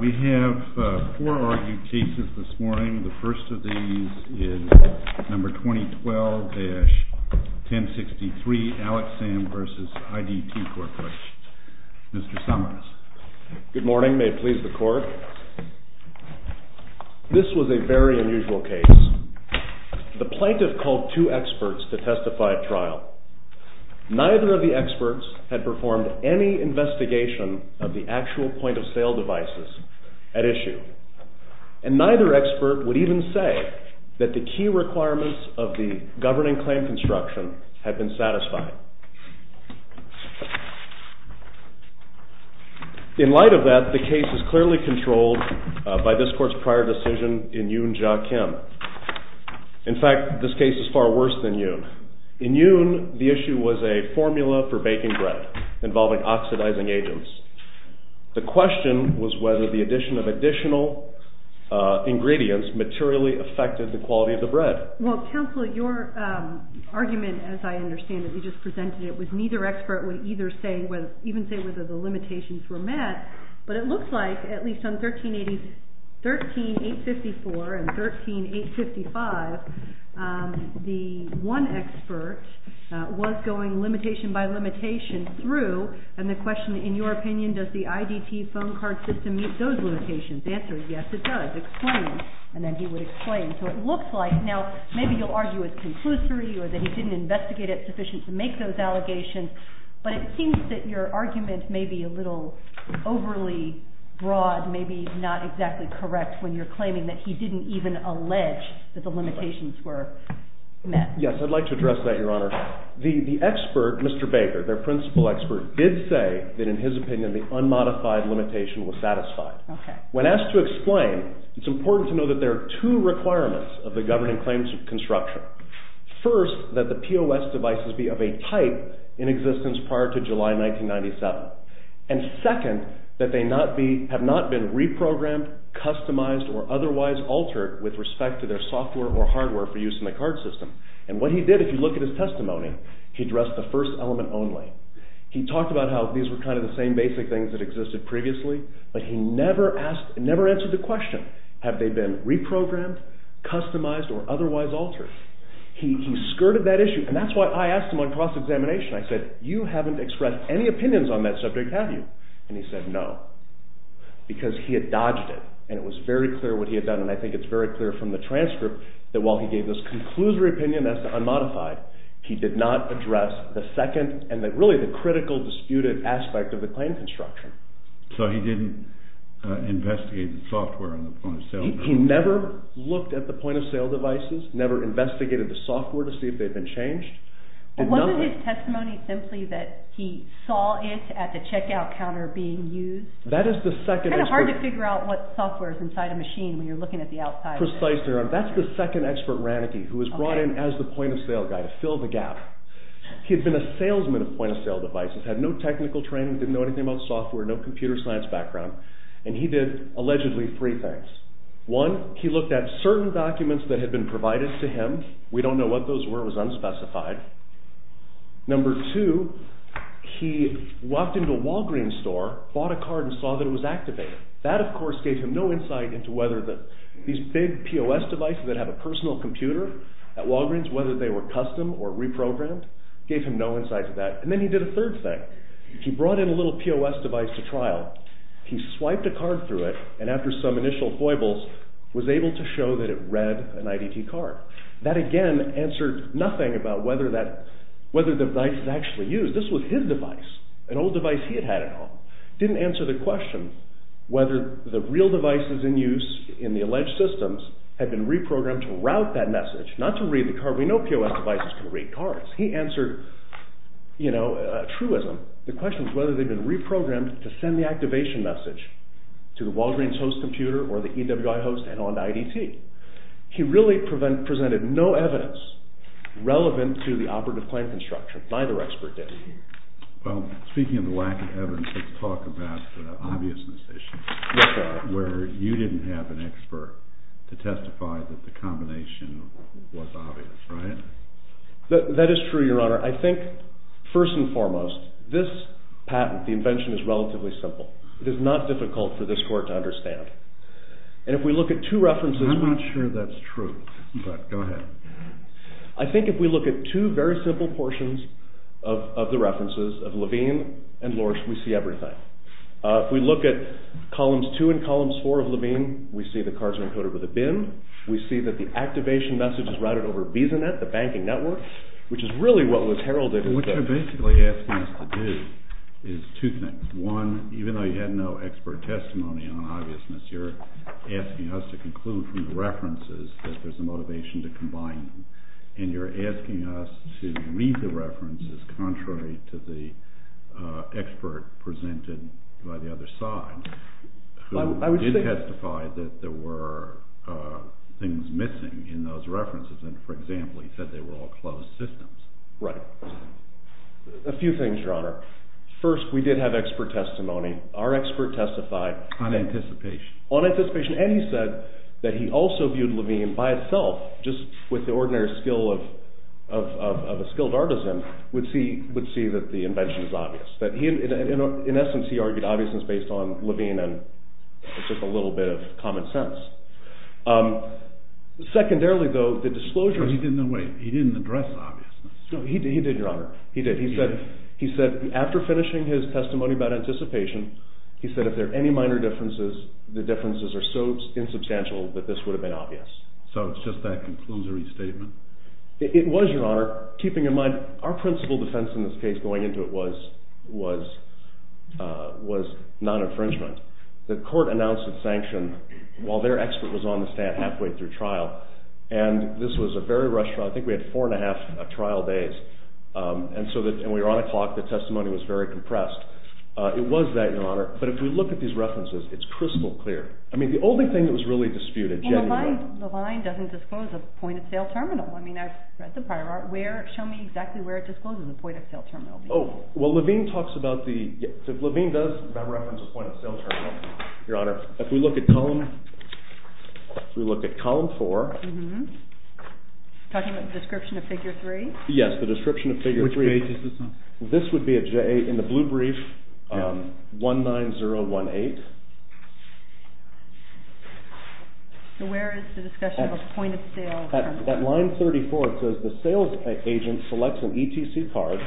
We have four argued cases this morning. The first of these is number 2012-1063 Alex Sam v. IDT Corp. Mr. Summers. Good morning. May it please the court. This was a very unusual case. The plaintiff called two experts to testify at trial. Neither of the experts had performed any investigation of the actual point of sale devices at issue. And neither expert would even say that the key requirements of the governing claim construction had been satisfied. In light of that, the case is clearly controlled by this court's prior decision in Yoon Ja Kim. In fact, this case is far worse than Yoon. In Yoon, the issue was a formula for baking bread involving oxidizing agents. The question was whether the addition of additional ingredients materially affected the quality of the bread. Well, counsel, your argument, as I understand it, you just presented it, was neither expert would even say whether the limitations were met. But it looks like, at least on 13854 and 13855, the one expert was going limitation by limitation through. And the question, in your opinion, does the IDT phone card system meet those limitations? The answer is yes, it does. Explain. And then he would explain. So it looks like, now, maybe you'll argue it's conclusory or that he didn't investigate it sufficient to make those allegations. But it seems that your argument may be a little overly broad, maybe not exactly correct when you're claiming that he didn't even allege that the limitations were met. Yes, I'd like to address that, Your Honor. The expert, Mr. Baker, their principal expert, did say that, in his opinion, the unmodified limitation was satisfied. When asked to explain, it's important to know that there are two requirements of the governing claims construction. First, that the POS devices be of a type in existence prior to July 1997. And second, that they have not been reprogrammed, customized, or otherwise altered with respect to their software or hardware for use in the card system. And what he did, if you look at his testimony, he addressed the first element only. He talked about how these were kind of the same basic things that existed previously. But he never answered the question, have they been reprogrammed, customized, or otherwise altered? He skirted that issue. And that's why I asked him on cross-examination. I said, you haven't expressed any opinions on that subject, have you? And he said, no, because he had dodged it. And it was very clear what he had done. And I think it's very clear from the transcript that while he gave this conclusory opinion as to unmodified, he did not address the second and really the critical disputed aspect of the claim construction. So he didn't investigate the software on the POS devices? He never looked at the POS devices, never investigated the software to see if they had been changed. But wasn't his testimony simply that he saw it at the checkout counter being used? That is the second expert. It's kind of hard to figure out what software is inside a machine when you're looking at the outside. Precisely. That's the second expert, Raneke, who was brought in as the POS guy to fill the gap. He had been a salesman of point-of-sale devices, had no technical training, didn't know anything about software, no computer science background, and he did allegedly three things. One, he looked at certain documents that had been provided to him. We don't know what those were. It was unspecified. Number two, he walked into a Walgreens store, bought a card, and saw that it was activated. That, of course, gave him no insight into whether these big POS devices that have a personal computer at Walgreens, whether they were custom or reprogrammed, gave him no insight into that. And then he did a third thing. He brought in a little POS device to trial. He swiped a card through it, and after some initial foibles, was able to show that it read an IDT card. That, again, answered nothing about whether the device was actually used. This was his device, an old device he had had at home. It didn't answer the question whether the real devices in use in the alleged systems had been reprogrammed to route that message, not to read the card. We know POS devices can read cards. He answered, you know, truism. The question was whether they'd been reprogrammed to send the activation message to the Walgreens host computer or the EWI host and on to IDT. He really presented no evidence relevant to the operative plan construction. Neither expert did. Well, speaking of the lack of evidence, let's talk about the obviousness issue, where you didn't have an expert to testify that the combination was obvious, right? That is true, Your Honor. I think, first and foremost, this patent, the invention, is relatively simple. It is not difficult for this court to understand. And if we look at two references— I'm not sure that's true, but go ahead. I think if we look at two very simple portions of the references of Levine and Lorsch, we see everything. If we look at columns two and columns four of Levine, we see the cards are encoded with a BIM. We see that the activation message is routed over VisaNet, the banking network, which is really what was heralded. What you're basically asking us to do is two things. One, even though you had no expert testimony on obviousness, you're asking us to conclude from the references that there's a motivation to combine them. And you're asking us to read the references contrary to the expert presented by the other side, who did testify that there were things missing in those references. And, for example, he said they were all closed systems. A few things, Your Honor. First, we did have expert testimony. Our expert testified. On anticipation. On anticipation. And he said that he also viewed Levine by itself, just with the ordinary skill of a skilled artisan, would see that the invention was obvious. In essence, he argued obviousness based on Levine and just a little bit of common sense. Secondarily, though, the disclosure— He didn't address obviousness. He did, Your Honor. He did. After finishing his testimony about anticipation, he said if there are any minor differences, the differences are so insubstantial that this would have been obvious. So it's just that conclusory statement? It was, Your Honor. Keeping in mind, our principal defense in this case, going into it, was non-infringement. The court announced its sanction while their expert was on the stand halfway through trial. And this was a very rushed trial. I think we had four and a half trial days. And we were on a clock. The testimony was very compressed. It was that, Your Honor. But if we look at these references, it's crystal clear. I mean, the only thing that was really disputed— Well, the line doesn't disclose a point-of-sale terminal. I mean, I've read the prior art. Show me exactly where it discloses a point-of-sale terminal. Oh, well, Levine talks about the—Levine does reference a point-of-sale terminal, Your Honor. If we look at column—if we look at column four— You're talking about the description of figure three? Yes, the description of figure three. Which page is this on? This would be in the blue brief, 19018. So where is the discussion of a point-of-sale terminal? At line 34, it says, The sales agent selects an ETC card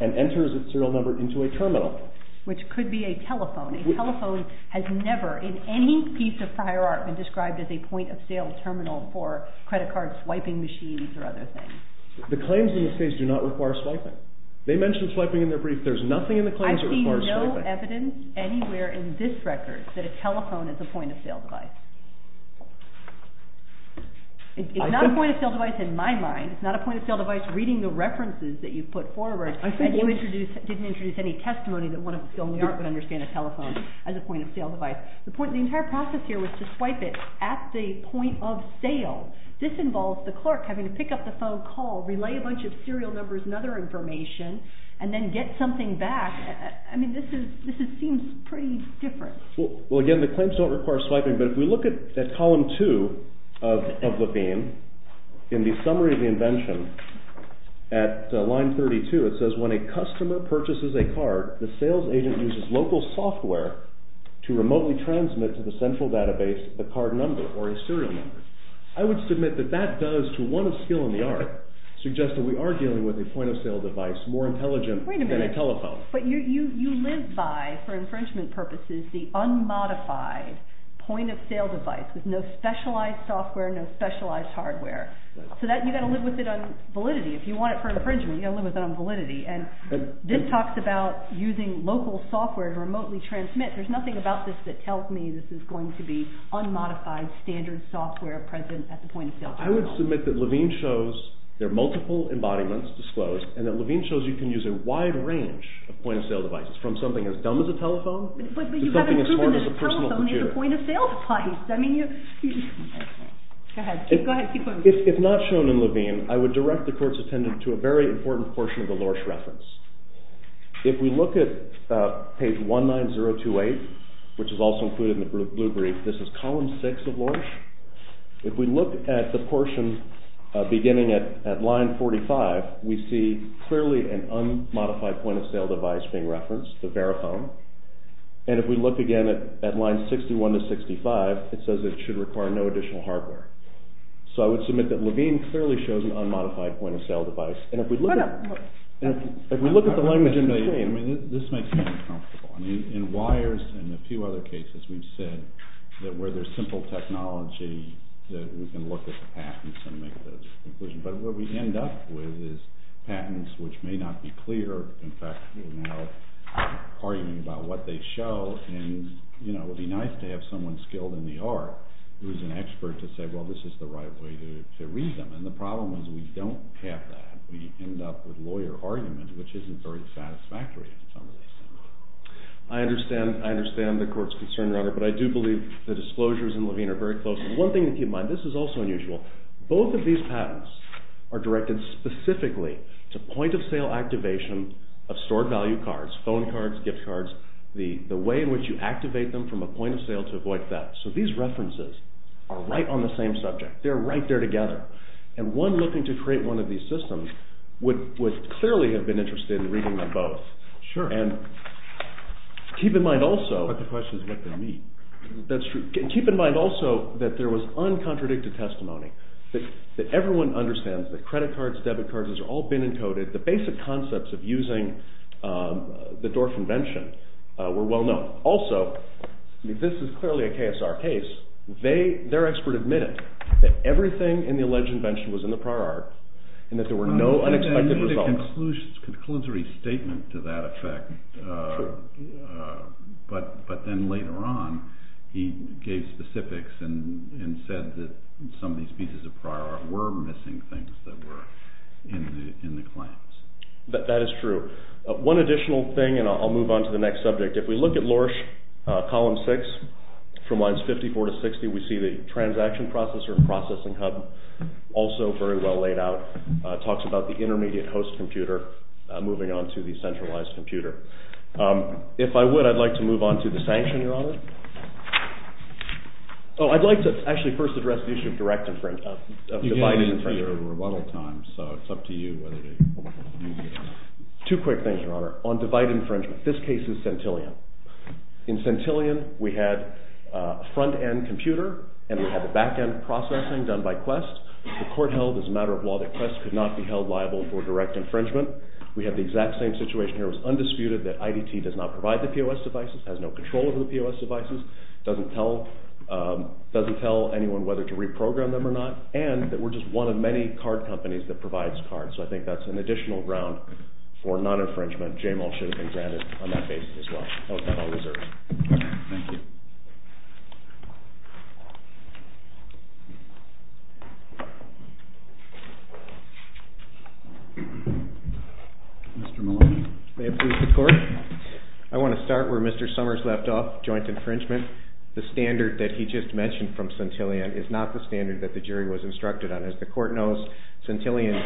and enters its serial number into a terminal. Which could be a telephone. A telephone has never, in any piece of prior art, been described as a point-of-sale terminal for credit card swiping machines or other things. The claims in this case do not require swiping. They mention swiping in their brief. There's nothing in the claims that requires swiping. I see no evidence anywhere in this record that a telephone is a point-of-sale device. It's not a point-of-sale device in my mind. It's not a point-of-sale device reading the references that you put forward and you didn't introduce any testimony that one of us still in the art would understand a telephone as a point-of-sale device. The entire process here was to swipe it at the point-of-sale. This involves the clerk having to pick up the phone call, relay a bunch of serial numbers and other information, and then get something back. I mean, this seems pretty different. Well, again, the claims don't require swiping, but if we look at column 2 of the theme, in the summary of the invention, at line 32, it says, When a customer purchases a card, the sales agent uses local software to remotely transmit to the central database the card number or a serial number. I would submit that that does, to one of skill in the art, suggest that we are dealing with a point-of-sale device more intelligent than a telephone. Wait a minute. But you live by, for infringement purposes, the unmodified point-of-sale device with no specialized software, no specialized hardware. So you've got to live with it on validity. If you want it for infringement, you've got to live with it on validity. And this talks about using local software to remotely transmit. There's nothing about this that tells me this is going to be unmodified standard software present at the point-of-sale device. I would submit that Levine shows there are multiple embodiments disclosed, and that Levine shows you can use a wide range of point-of-sale devices, from something as dumb as a telephone to something as smart as a personal computer. But you haven't proven that a telephone is a point-of-sale device. Go ahead. Keep going. If not shown in Levine, I would direct the court's attendant to a very important portion of the Lorsch reference. If we look at page 19028, which is also included in the blue brief, this is column 6 of Lorsch. If we look at the portion beginning at line 45, we see clearly an unmodified point-of-sale device being referenced, the Verifone. And if we look again at line 61 to 65, it says it should require no additional hardware. So I would submit that Levine clearly shows an unmodified point-of-sale device. And if we look at the language in between... This makes me uncomfortable. In WIRES and a few other cases, we've said that where there's simple technology, that we can look at the patents and make those conclusions. But what we end up with is patents which may not be clear. In fact, we're now arguing about what they show, and it would be nice to have someone skilled in the art who is an expert to say, well, this is the right way to read them. And the problem is we don't have that. We end up with lawyer arguments, which isn't very satisfactory in some ways. I understand the court's concern, Robert, but I do believe the disclosures in Levine are very close. One thing to keep in mind, this is also unusual. Both of these patents are directed specifically to point-of-sale activation of stored-value cards, phone cards, gift cards, the way in which you activate them from a point-of-sale to avoid theft. So these references are right on the same subject. They're right there together. And one looking to create one of these systems would clearly have been interested in reading them both. But the question is what they mean. That's true. Keep in mind also that there was uncontradicted testimony, that everyone understands that credit cards, debit cards, these are all bin-encoded. The basic concepts of using the Dorff Invention were well known. Also, this is clearly a KSR case. Their expert admitted that everything in the alleged invention was in the prior art and that there were no unexpected results. I made a conclusory statement to that effect, but then later on he gave specifics and said that some of these pieces of prior art were missing things that were in the claims. That is true. One additional thing, and I'll move on to the next subject. If we look at Lorsch, Column 6, from lines 54 to 60, we see the transaction processor and processing hub, also very well laid out. It talks about the intermediate host computer moving on to the centralized computer. If I would, I'd like to move on to the sanction, Your Honor. Oh, I'd like to actually first address the issue of direct infringement. You gave me the remodel time, so it's up to you whether to use it or not. Two quick things, Your Honor. On divide infringement, this case is Centillion. In Centillion, we had a front-end computer and we had the back-end processing done by Quest. The court held, as a matter of law, that Quest could not be held liable for direct infringement. We had the exact same situation here. It was undisputed that IDT does not provide the POS devices, has no control over the POS devices, doesn't tell anyone whether to reprogram them or not, and that we're just one of many card companies that provides cards. So I think that's an additional round for non-infringement. Jamal should have been granted on that basis as well. That was all reserved. Thank you. Mr. Maloney. May it please the Court. I want to start where Mr. Summers left off, joint infringement. The standard that he just mentioned from Centillion is not the standard that the jury was instructed on. As the Court knows, Centillion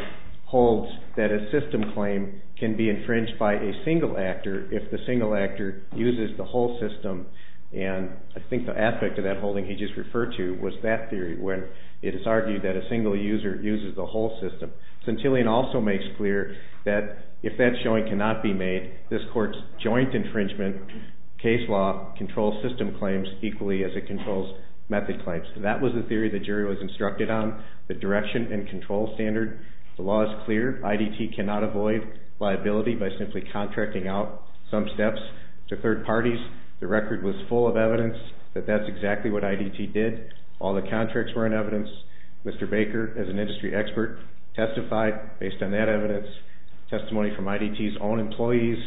holds that a system claim can be infringed by a single actor if the single actor uses the whole system. And I think the aspect of that holding he just referred to was that theory where it is argued that a single user uses the whole system. Centillion also makes clear that if that showing cannot be made, this Court's joint infringement case law controls system claims equally as it controls method claims. That was the theory the jury was instructed on. The direction and control standard. The law is clear. IDT cannot avoid liability by simply contracting out some steps to third parties. The record was full of evidence that that's exactly what IDT did. All the contracts were in evidence. Mr. Baker, as an industry expert, testified based on that evidence, testimony from IDT's own employees,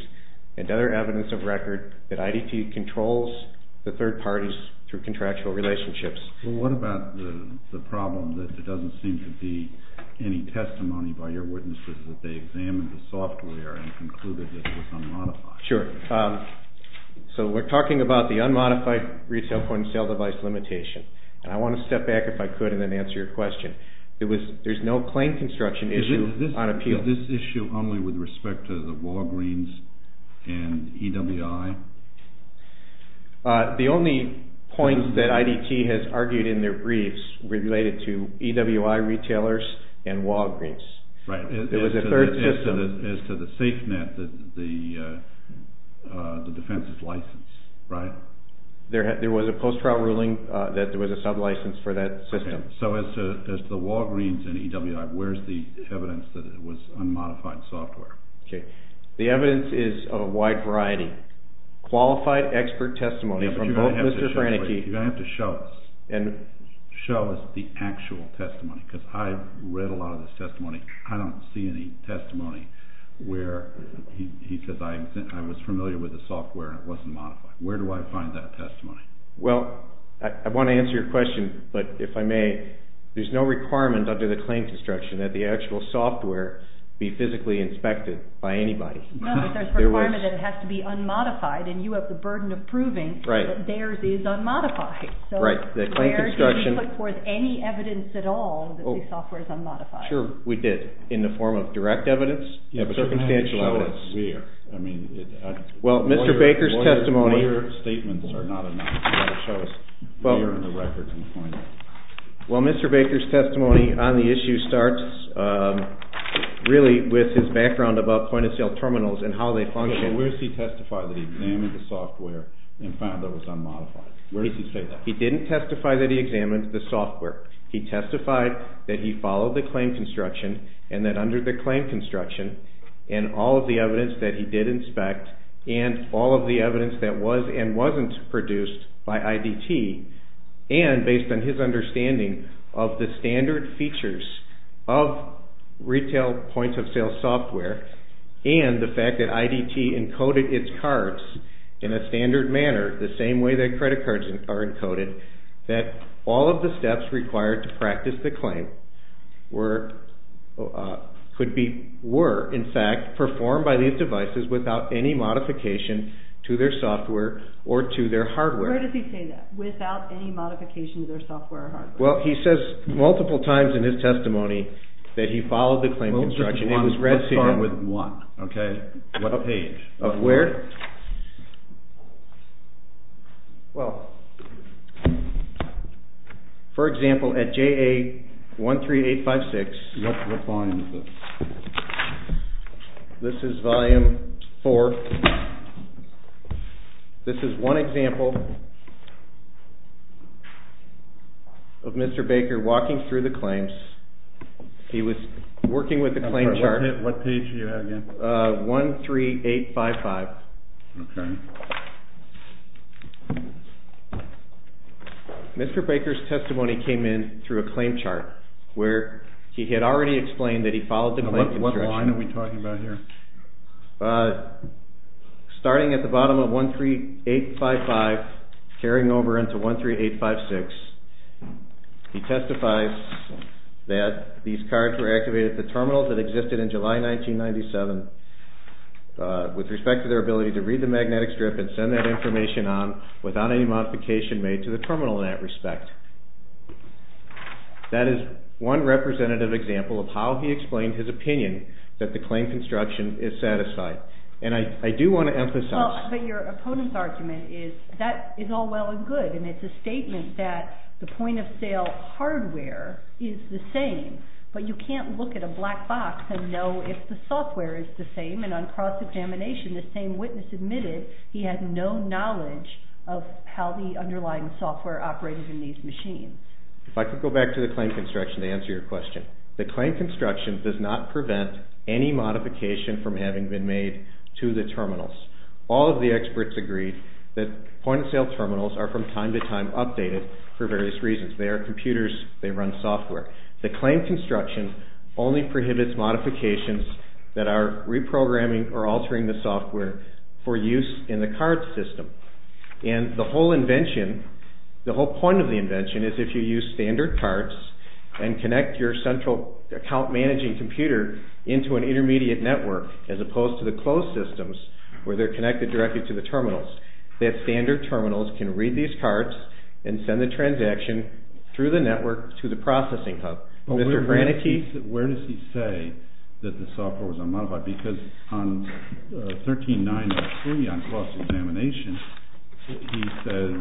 and other evidence of record that IDT controls the third parties through contractual relationships. Well, what about the problem that there doesn't seem to be any testimony by your witnesses that they examined the software and concluded that it was unmodified? Sure. So we're talking about the unmodified retail point and sale device limitation. And I want to step back if I could and then answer your question. There's no claim construction issue on appeal. Is this issue only with respect to the Walgreens and EWI? The only point that IDT has argued in their briefs related to EWI retailers and Walgreens. As to the safe net, the defense's license, right? There was a post-trial ruling that there was a sub-license for that system. So as to the Walgreens and EWI, where's the evidence that it was unmodified software? Okay. The evidence is of a wide variety. Qualified expert testimony from both Mr. Frannike. You're going to have to show us. Show us the actual testimony because I read a lot of this testimony. I don't see any testimony where he says, I was familiar with the software and it wasn't modified. Where do I find that testimony? Well, I want to answer your question, but if I may, there's no requirement under the claim construction that the actual software be physically inspected by anybody. No, but there's a requirement that it has to be unmodified and you have the burden of proving that theirs is unmodified. Right. So where do you put forth any evidence at all that the software is unmodified? Sure, we did. In the form of direct evidence? Circumstantial evidence. You have to show us where. Well, Mr. Baker's testimony. Your statements are not enough. You've got to show us where in the records and point it. Well, Mr. Baker's testimony on the issue starts really with his background about point-of-sale terminals and how they function. Where does he testify that he examined the software and found it was unmodified? Where does he say that? He didn't testify that he examined the software. He testified that he followed the claim construction and that under the claim construction and all of the evidence that he did inspect and all of the evidence that was and wasn't produced by IDT and based on his understanding of the standard features of retail point-of-sale software and the fact that IDT encoded its cards in a standard manner, the same way that credit cards are encoded, that all of the steps required to practice the claim were, in fact, performed by these devices without any modification to their software or to their hardware. Where does he say that? Without any modification to their software or hardware. Well, he says multiple times in his testimony that he followed the claim construction. It was read to him. Let's start with one. Okay. What page? Of where? Well, for example, at JA13856. Let's look on this. This is volume four. This is one example of Mr. Baker walking through the claims. He was working with the claim chart. What page are you at again? 13855. Okay. Mr. Baker's testimony came in through a claim chart where he had already explained that he followed the claim construction. What line are we talking about here? Starting at the bottom of 13855, carrying over into 13856, he testifies that these cards were activated at the terminal that existed in July 1997 with respect to their ability to read the magnetic strip and send that information on without any modification made to the terminal in that respect. That is one representative example of how he explained his opinion that the claim construction is satisfied. And I do want to emphasize. But your opponent's argument is that is all well and good, and it's a statement that the point-of-sale hardware is the same, but you can't look at a black box and know if the software is the same. And on cross-examination, the same witness admitted he had no knowledge of how the underlying software operated in these machines. If I could go back to the claim construction to answer your question. The claim construction does not prevent any modification from having been made to the terminals. All of the experts agreed that point-of-sale terminals are from time to time updated for various reasons. They are computers. They run software. The claim construction only prohibits modifications that are reprogramming or altering the software for use in the card system. And the whole invention, the whole point of the invention, is if you use standard cards and connect your central account-managing computer into an intermediate network as opposed to the closed systems where they're connected directly to the terminals, that standard terminals can read these cards and send the transaction through the network to the processing hub. Mr. Brannake? Where does he say that the software was unmodified? Because on 13903 on cross-examination, he says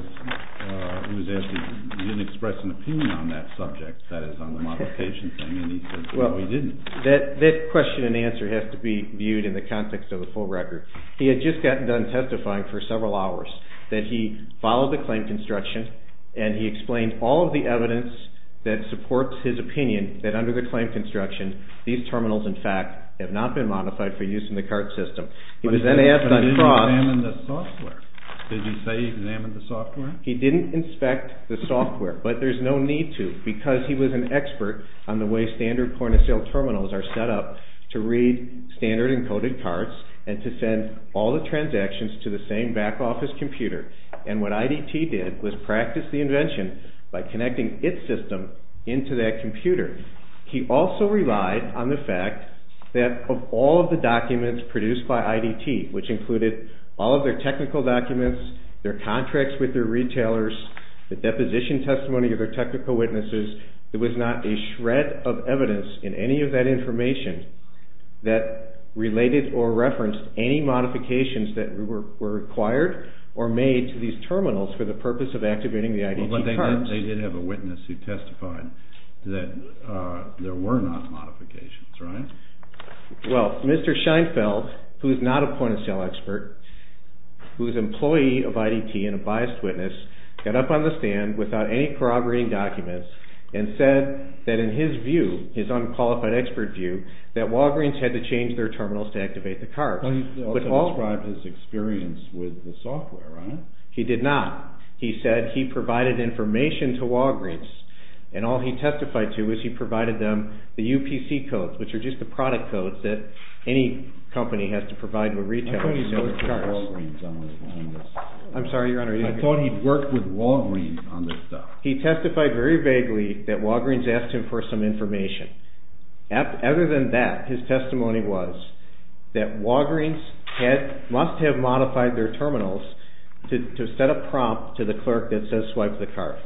he didn't express an opinion on that subject, that is, on the modification thing, and he says no, he didn't. That question and answer has to be viewed in the context of the full record. He had just gotten done testifying for several hours that he followed the claim construction and he explained all of the evidence that supports his opinion that under the claim construction, these terminals, in fact, have not been modified for use in the card system. He was then asked on cross... But he didn't examine the software. Did he say he examined the software? He didn't inspect the software, but there's no need to because he was an expert on the way standard point-of-sale terminals are set up to read standard encoded cards and to send all the transactions to the same back-office computer. And what IDT did was practice the invention by connecting its system into that computer. He also relied on the fact that of all of the documents produced by IDT, which included all of their technical documents, their contracts with their retailers, the deposition testimony of their technical witnesses, there was not a shred of evidence in any of that information that related or referenced any modifications that were required But they did have a witness who testified that there were not modifications, right? Well, Mr. Scheinfeld, who is not a point-of-sale expert, who is an employee of IDT and a biased witness, got up on the stand without any corroborating documents and said that in his view, his unqualified expert view, that Walgreens had to change their terminals to activate the cards. He also described his experience with the software, right? He did not. He said he provided information to Walgreens and all he testified to was he provided them the UPC codes, which are just the product codes that any company has to provide to a retailer. I thought he spoke to Walgreens on this. I'm sorry, Your Honor. I thought he worked with Walgreens on this stuff. He testified very vaguely that Walgreens asked him for some information. Other than that, his testimony was that Walgreens must have modified their terminals to set a prompt to the clerk that says swipe the card.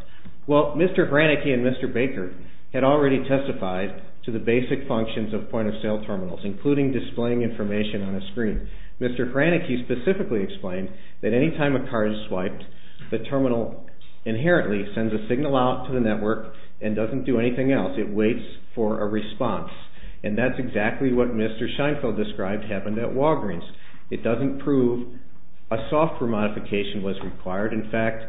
Well, Mr. Hranicki and Mr. Baker had already testified to the basic functions of point-of-sale terminals, including displaying information on a screen. Mr. Hranicki specifically explained that any time a card is swiped, the terminal inherently sends a signal out to the network and doesn't do anything else. It waits for a response. And that's exactly what Mr. Scheinfeld described happened at Walgreens. It doesn't prove a software modification was required. In fact,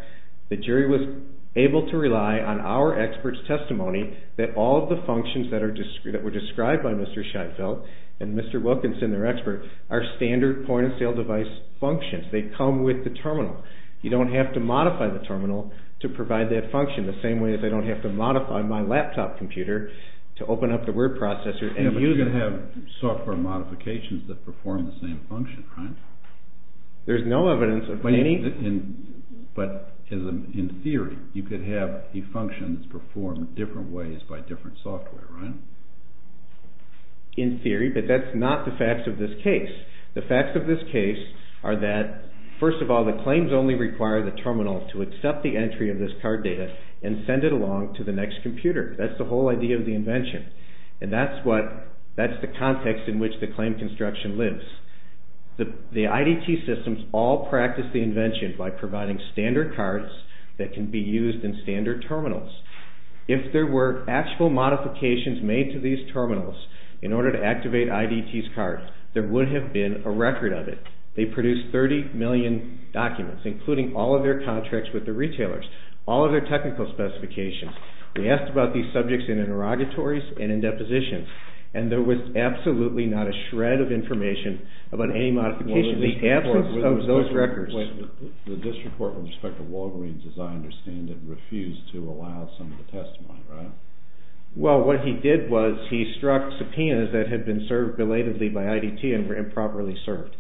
the jury was able to rely on our expert's testimony that all of the functions that were described by Mr. Scheinfeld and Mr. Wilkinson, their expert, are standard point-of-sale device functions. They come with the terminal. You don't have to modify the terminal to provide that function, the same way as I don't have to modify my laptop computer to open up the word processor. But you can have software modifications that perform the same function, right? There's no evidence of any. But in theory, you could have a function that's performed different ways by different software, right? In theory, but that's not the facts of this case. The facts of this case are that, first of all, the claims only require the terminal to accept the entry of this card data and send it along to the next computer. That's the whole idea of the invention. And that's the context in which the claim construction lives. The IDT systems all practice the invention by providing standard cards that can be used in standard terminals. If there were actual modifications made to these terminals in order to activate IDT's cards, there would have been a record of it. They produce 30 million documents, including all of their contracts with the retailers, all of their technical specifications. We asked about these subjects in interrogatories and in depositions, and there was absolutely not a shred of information about any modification. The absence of those records... The district court with respect to Walgreens, as I understand it, refused to allow some of the testimony, right? Well, what he did was he struck subpoenas that had been served belatedly by IDT and were improperly served.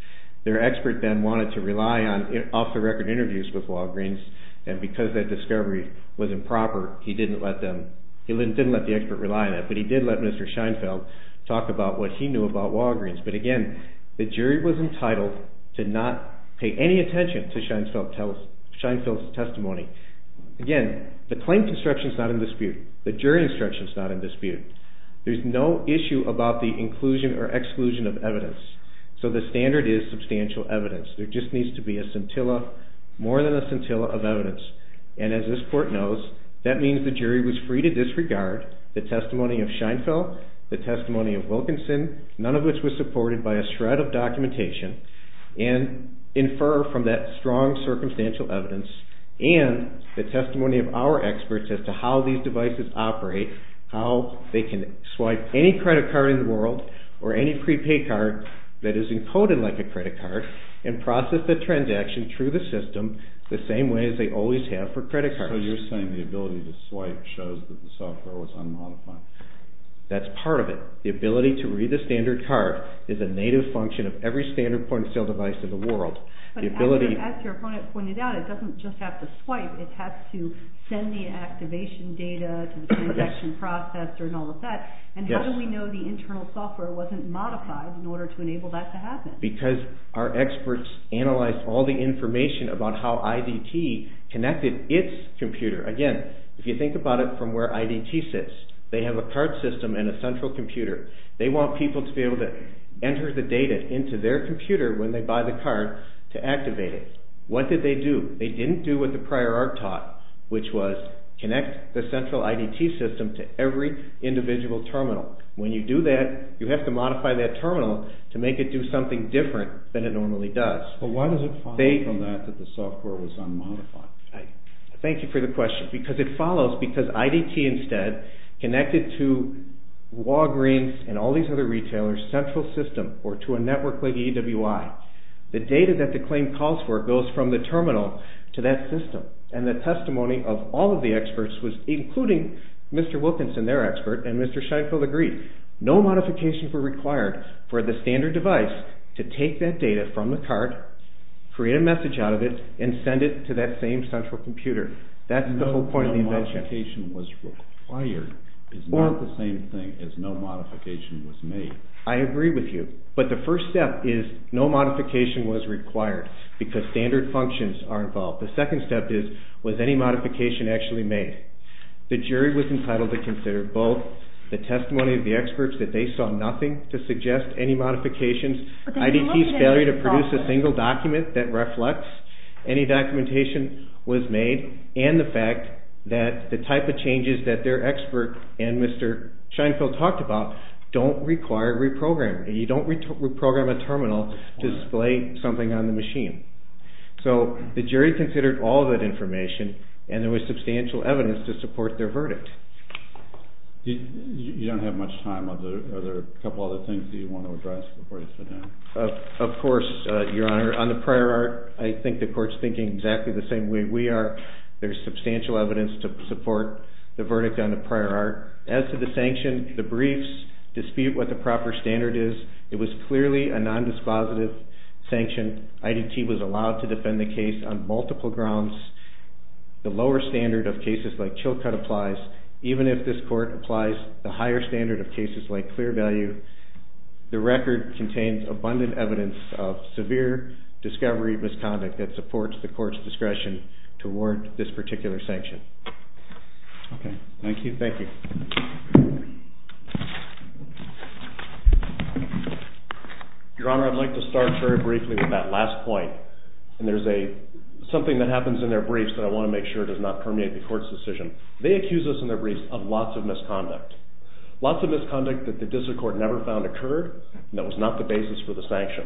And because that discovery was improper, he didn't let the expert rely on it. But he did let Mr. Scheinfeld talk about what he knew about Walgreens. But again, the jury was entitled to not pay any attention to Scheinfeld's testimony. Again, the claim construction is not in dispute. The jury instruction is not in dispute. There's no issue about the inclusion or exclusion of evidence. So the standard is substantial evidence. There just needs to be a scintilla, more than a scintilla of evidence. And as this court knows, that means the jury was free to disregard the testimony of Scheinfeld, the testimony of Wilkinson, none of which was supported by a shred of documentation, and infer from that strong circumstantial evidence and the testimony of our experts as to how these devices operate, how they can swipe any credit card in the world or any prepaid card that is encoded like a credit card and process the transaction through the system the same way as they always have for credit cards. So you're saying the ability to swipe shows that the software was unmodified. That's part of it. The ability to read the standard card is a native function of every standard point-of-sale device in the world. But as your opponent pointed out, it doesn't just have to swipe. It has to send the activation data to the transaction processor and all of that. And how do we know the internal software wasn't modified in order to enable that to happen? Because our experts analyzed all the information about how IDT connected its computer. Again, if you think about it from where IDT sits, they have a card system and a central computer. They want people to be able to enter the data into their computer when they buy the card to activate it. What did they do? They didn't do what the prior art taught, which was connect the central IDT system to every individual terminal. When you do that, you have to modify that terminal to make it do something different than it normally does. But why does it follow from that that the software was unmodified? Thank you for the question. Because it follows because IDT instead connected to Walgreens and all these other retailers' central system or to a network like EWI. The data that the claim calls for goes from the terminal to that system. And the testimony of all of the experts was including Mr. Wilkinson, their expert, and Mr. Sheinfeld agreed. No modifications were required for the standard device to take that data from the card, create a message out of it, and send it to that same central computer. That's the whole point of the invention. No modification was required is not the same thing as no modification was made. I agree with you. But the first step is no modification was required because standard functions are involved. The second step is, was any modification actually made? The jury was entitled to consider both the testimony of the experts that they saw nothing to suggest any modifications, IDT's failure to produce a single document that reflects any documentation was made, and the fact that the type of changes that their expert and Mr. Sheinfeld talked about don't require reprogramming. You don't reprogram a terminal to display something on the machine. So the jury considered all that information, and there was substantial evidence to support their verdict. You don't have much time. Are there a couple other things that you want to address before you sit down? Of course, Your Honor. On the prior art, I think the court's thinking exactly the same way we are. There's substantial evidence to support the verdict on the prior art. As to the sanction, the briefs dispute what the proper standard is. It was clearly a non-dispositive sanction. IDT was allowed to defend the case on multiple grounds. The lower standard of cases like Chilcot applies. Even if this court applies the higher standard of cases like Clear Value, the record contains abundant evidence of severe discovery misconduct that supports the court's discretion to award this particular sanction. Okay. Thank you. Thank you. Your Honor, I'd like to start very briefly with that last point, and there's something that happens in their briefs that I want to make sure does not permeate the court's decision. They accuse us in their briefs of lots of misconduct, lots of misconduct that the District Court never found occurred, and that was not the basis for the sanction.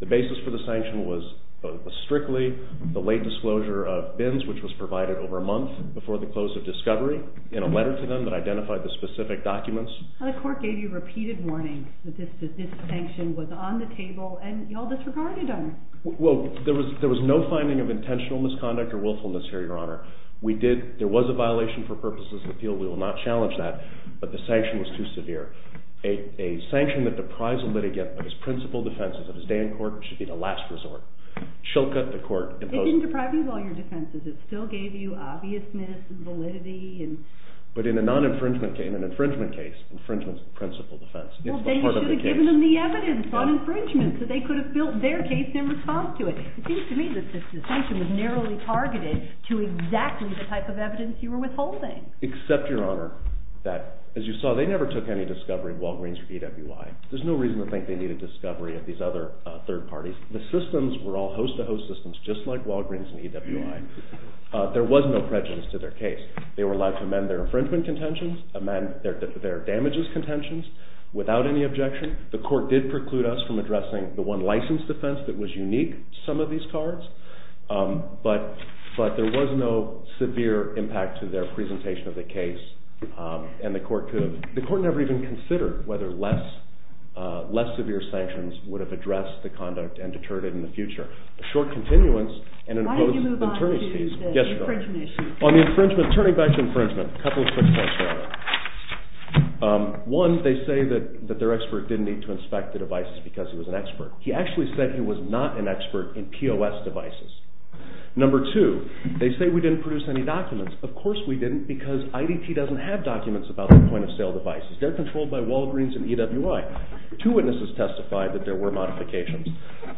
The basis for the sanction was strictly the late disclosure of bins, which was provided over a month before the close of discovery, and a letter to them that identified the specific documents. The court gave you repeated warnings that this sanction was on the table, and you all disregarded them. Well, there was no finding of intentional misconduct or willfulness here, Your Honor. There was a violation for purposes of appeal. We will not challenge that, but the sanction was too severe. A sanction that deprives a litigant of his principal defenses of his day in court should be the last resort. Chilcot, the court, imposed it. It didn't deprive you of all your defenses. It still gave you obviousness and validity. But in a non-infringement case, in an infringement case, infringement is the principal defense. Well, they should have given them the evidence on infringement so they could have built their case in response to it. It seems to me that the sanction was narrowly targeted to exactly the type of evidence you were withholding. Except, Your Honor, that, as you saw, they never took any discovery of Walgreens or EWI. There's no reason to think they need a discovery of these other third parties. The systems were all host-to-host systems just like Walgreens and EWI. There was no prejudice to their case. They were allowed to amend their infringement contentions, amend their damages contentions without any objection. The court did preclude us from addressing the one license defense that was unique to some of these cards. But there was no severe impact to their presentation of the case. And the court could have... The court never even considered whether less severe sanctions would have addressed the conduct and deterred it in the future. A short continuance... Why did you move on to the infringement issue? Turning back to infringement, a couple of quick points, Your Honor. One, they say that their expert didn't need to inspect the devices because he was an expert. He actually said he was not an expert in POS devices. Number two, they say we didn't produce any documents. Of course we didn't because IDT doesn't have documents about their point-of-sale devices. They're controlled by Walgreens and EWI. Two witnesses testified that there were modifications.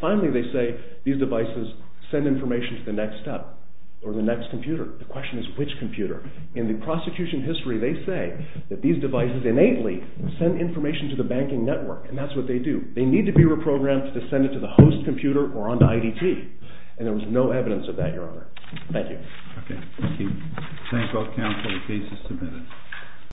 Finally, they say these devices send information to the next step or the next computer. The question is which computer. In the prosecution history, they say that these devices innately send information to the banking network, and that's what they do. They need to be reprogrammed to send it to the host computer or on to IDT. And there was no evidence of that, Your Honor. Thank you. Okay. Thank you. Thank both counsel. The case is submitted.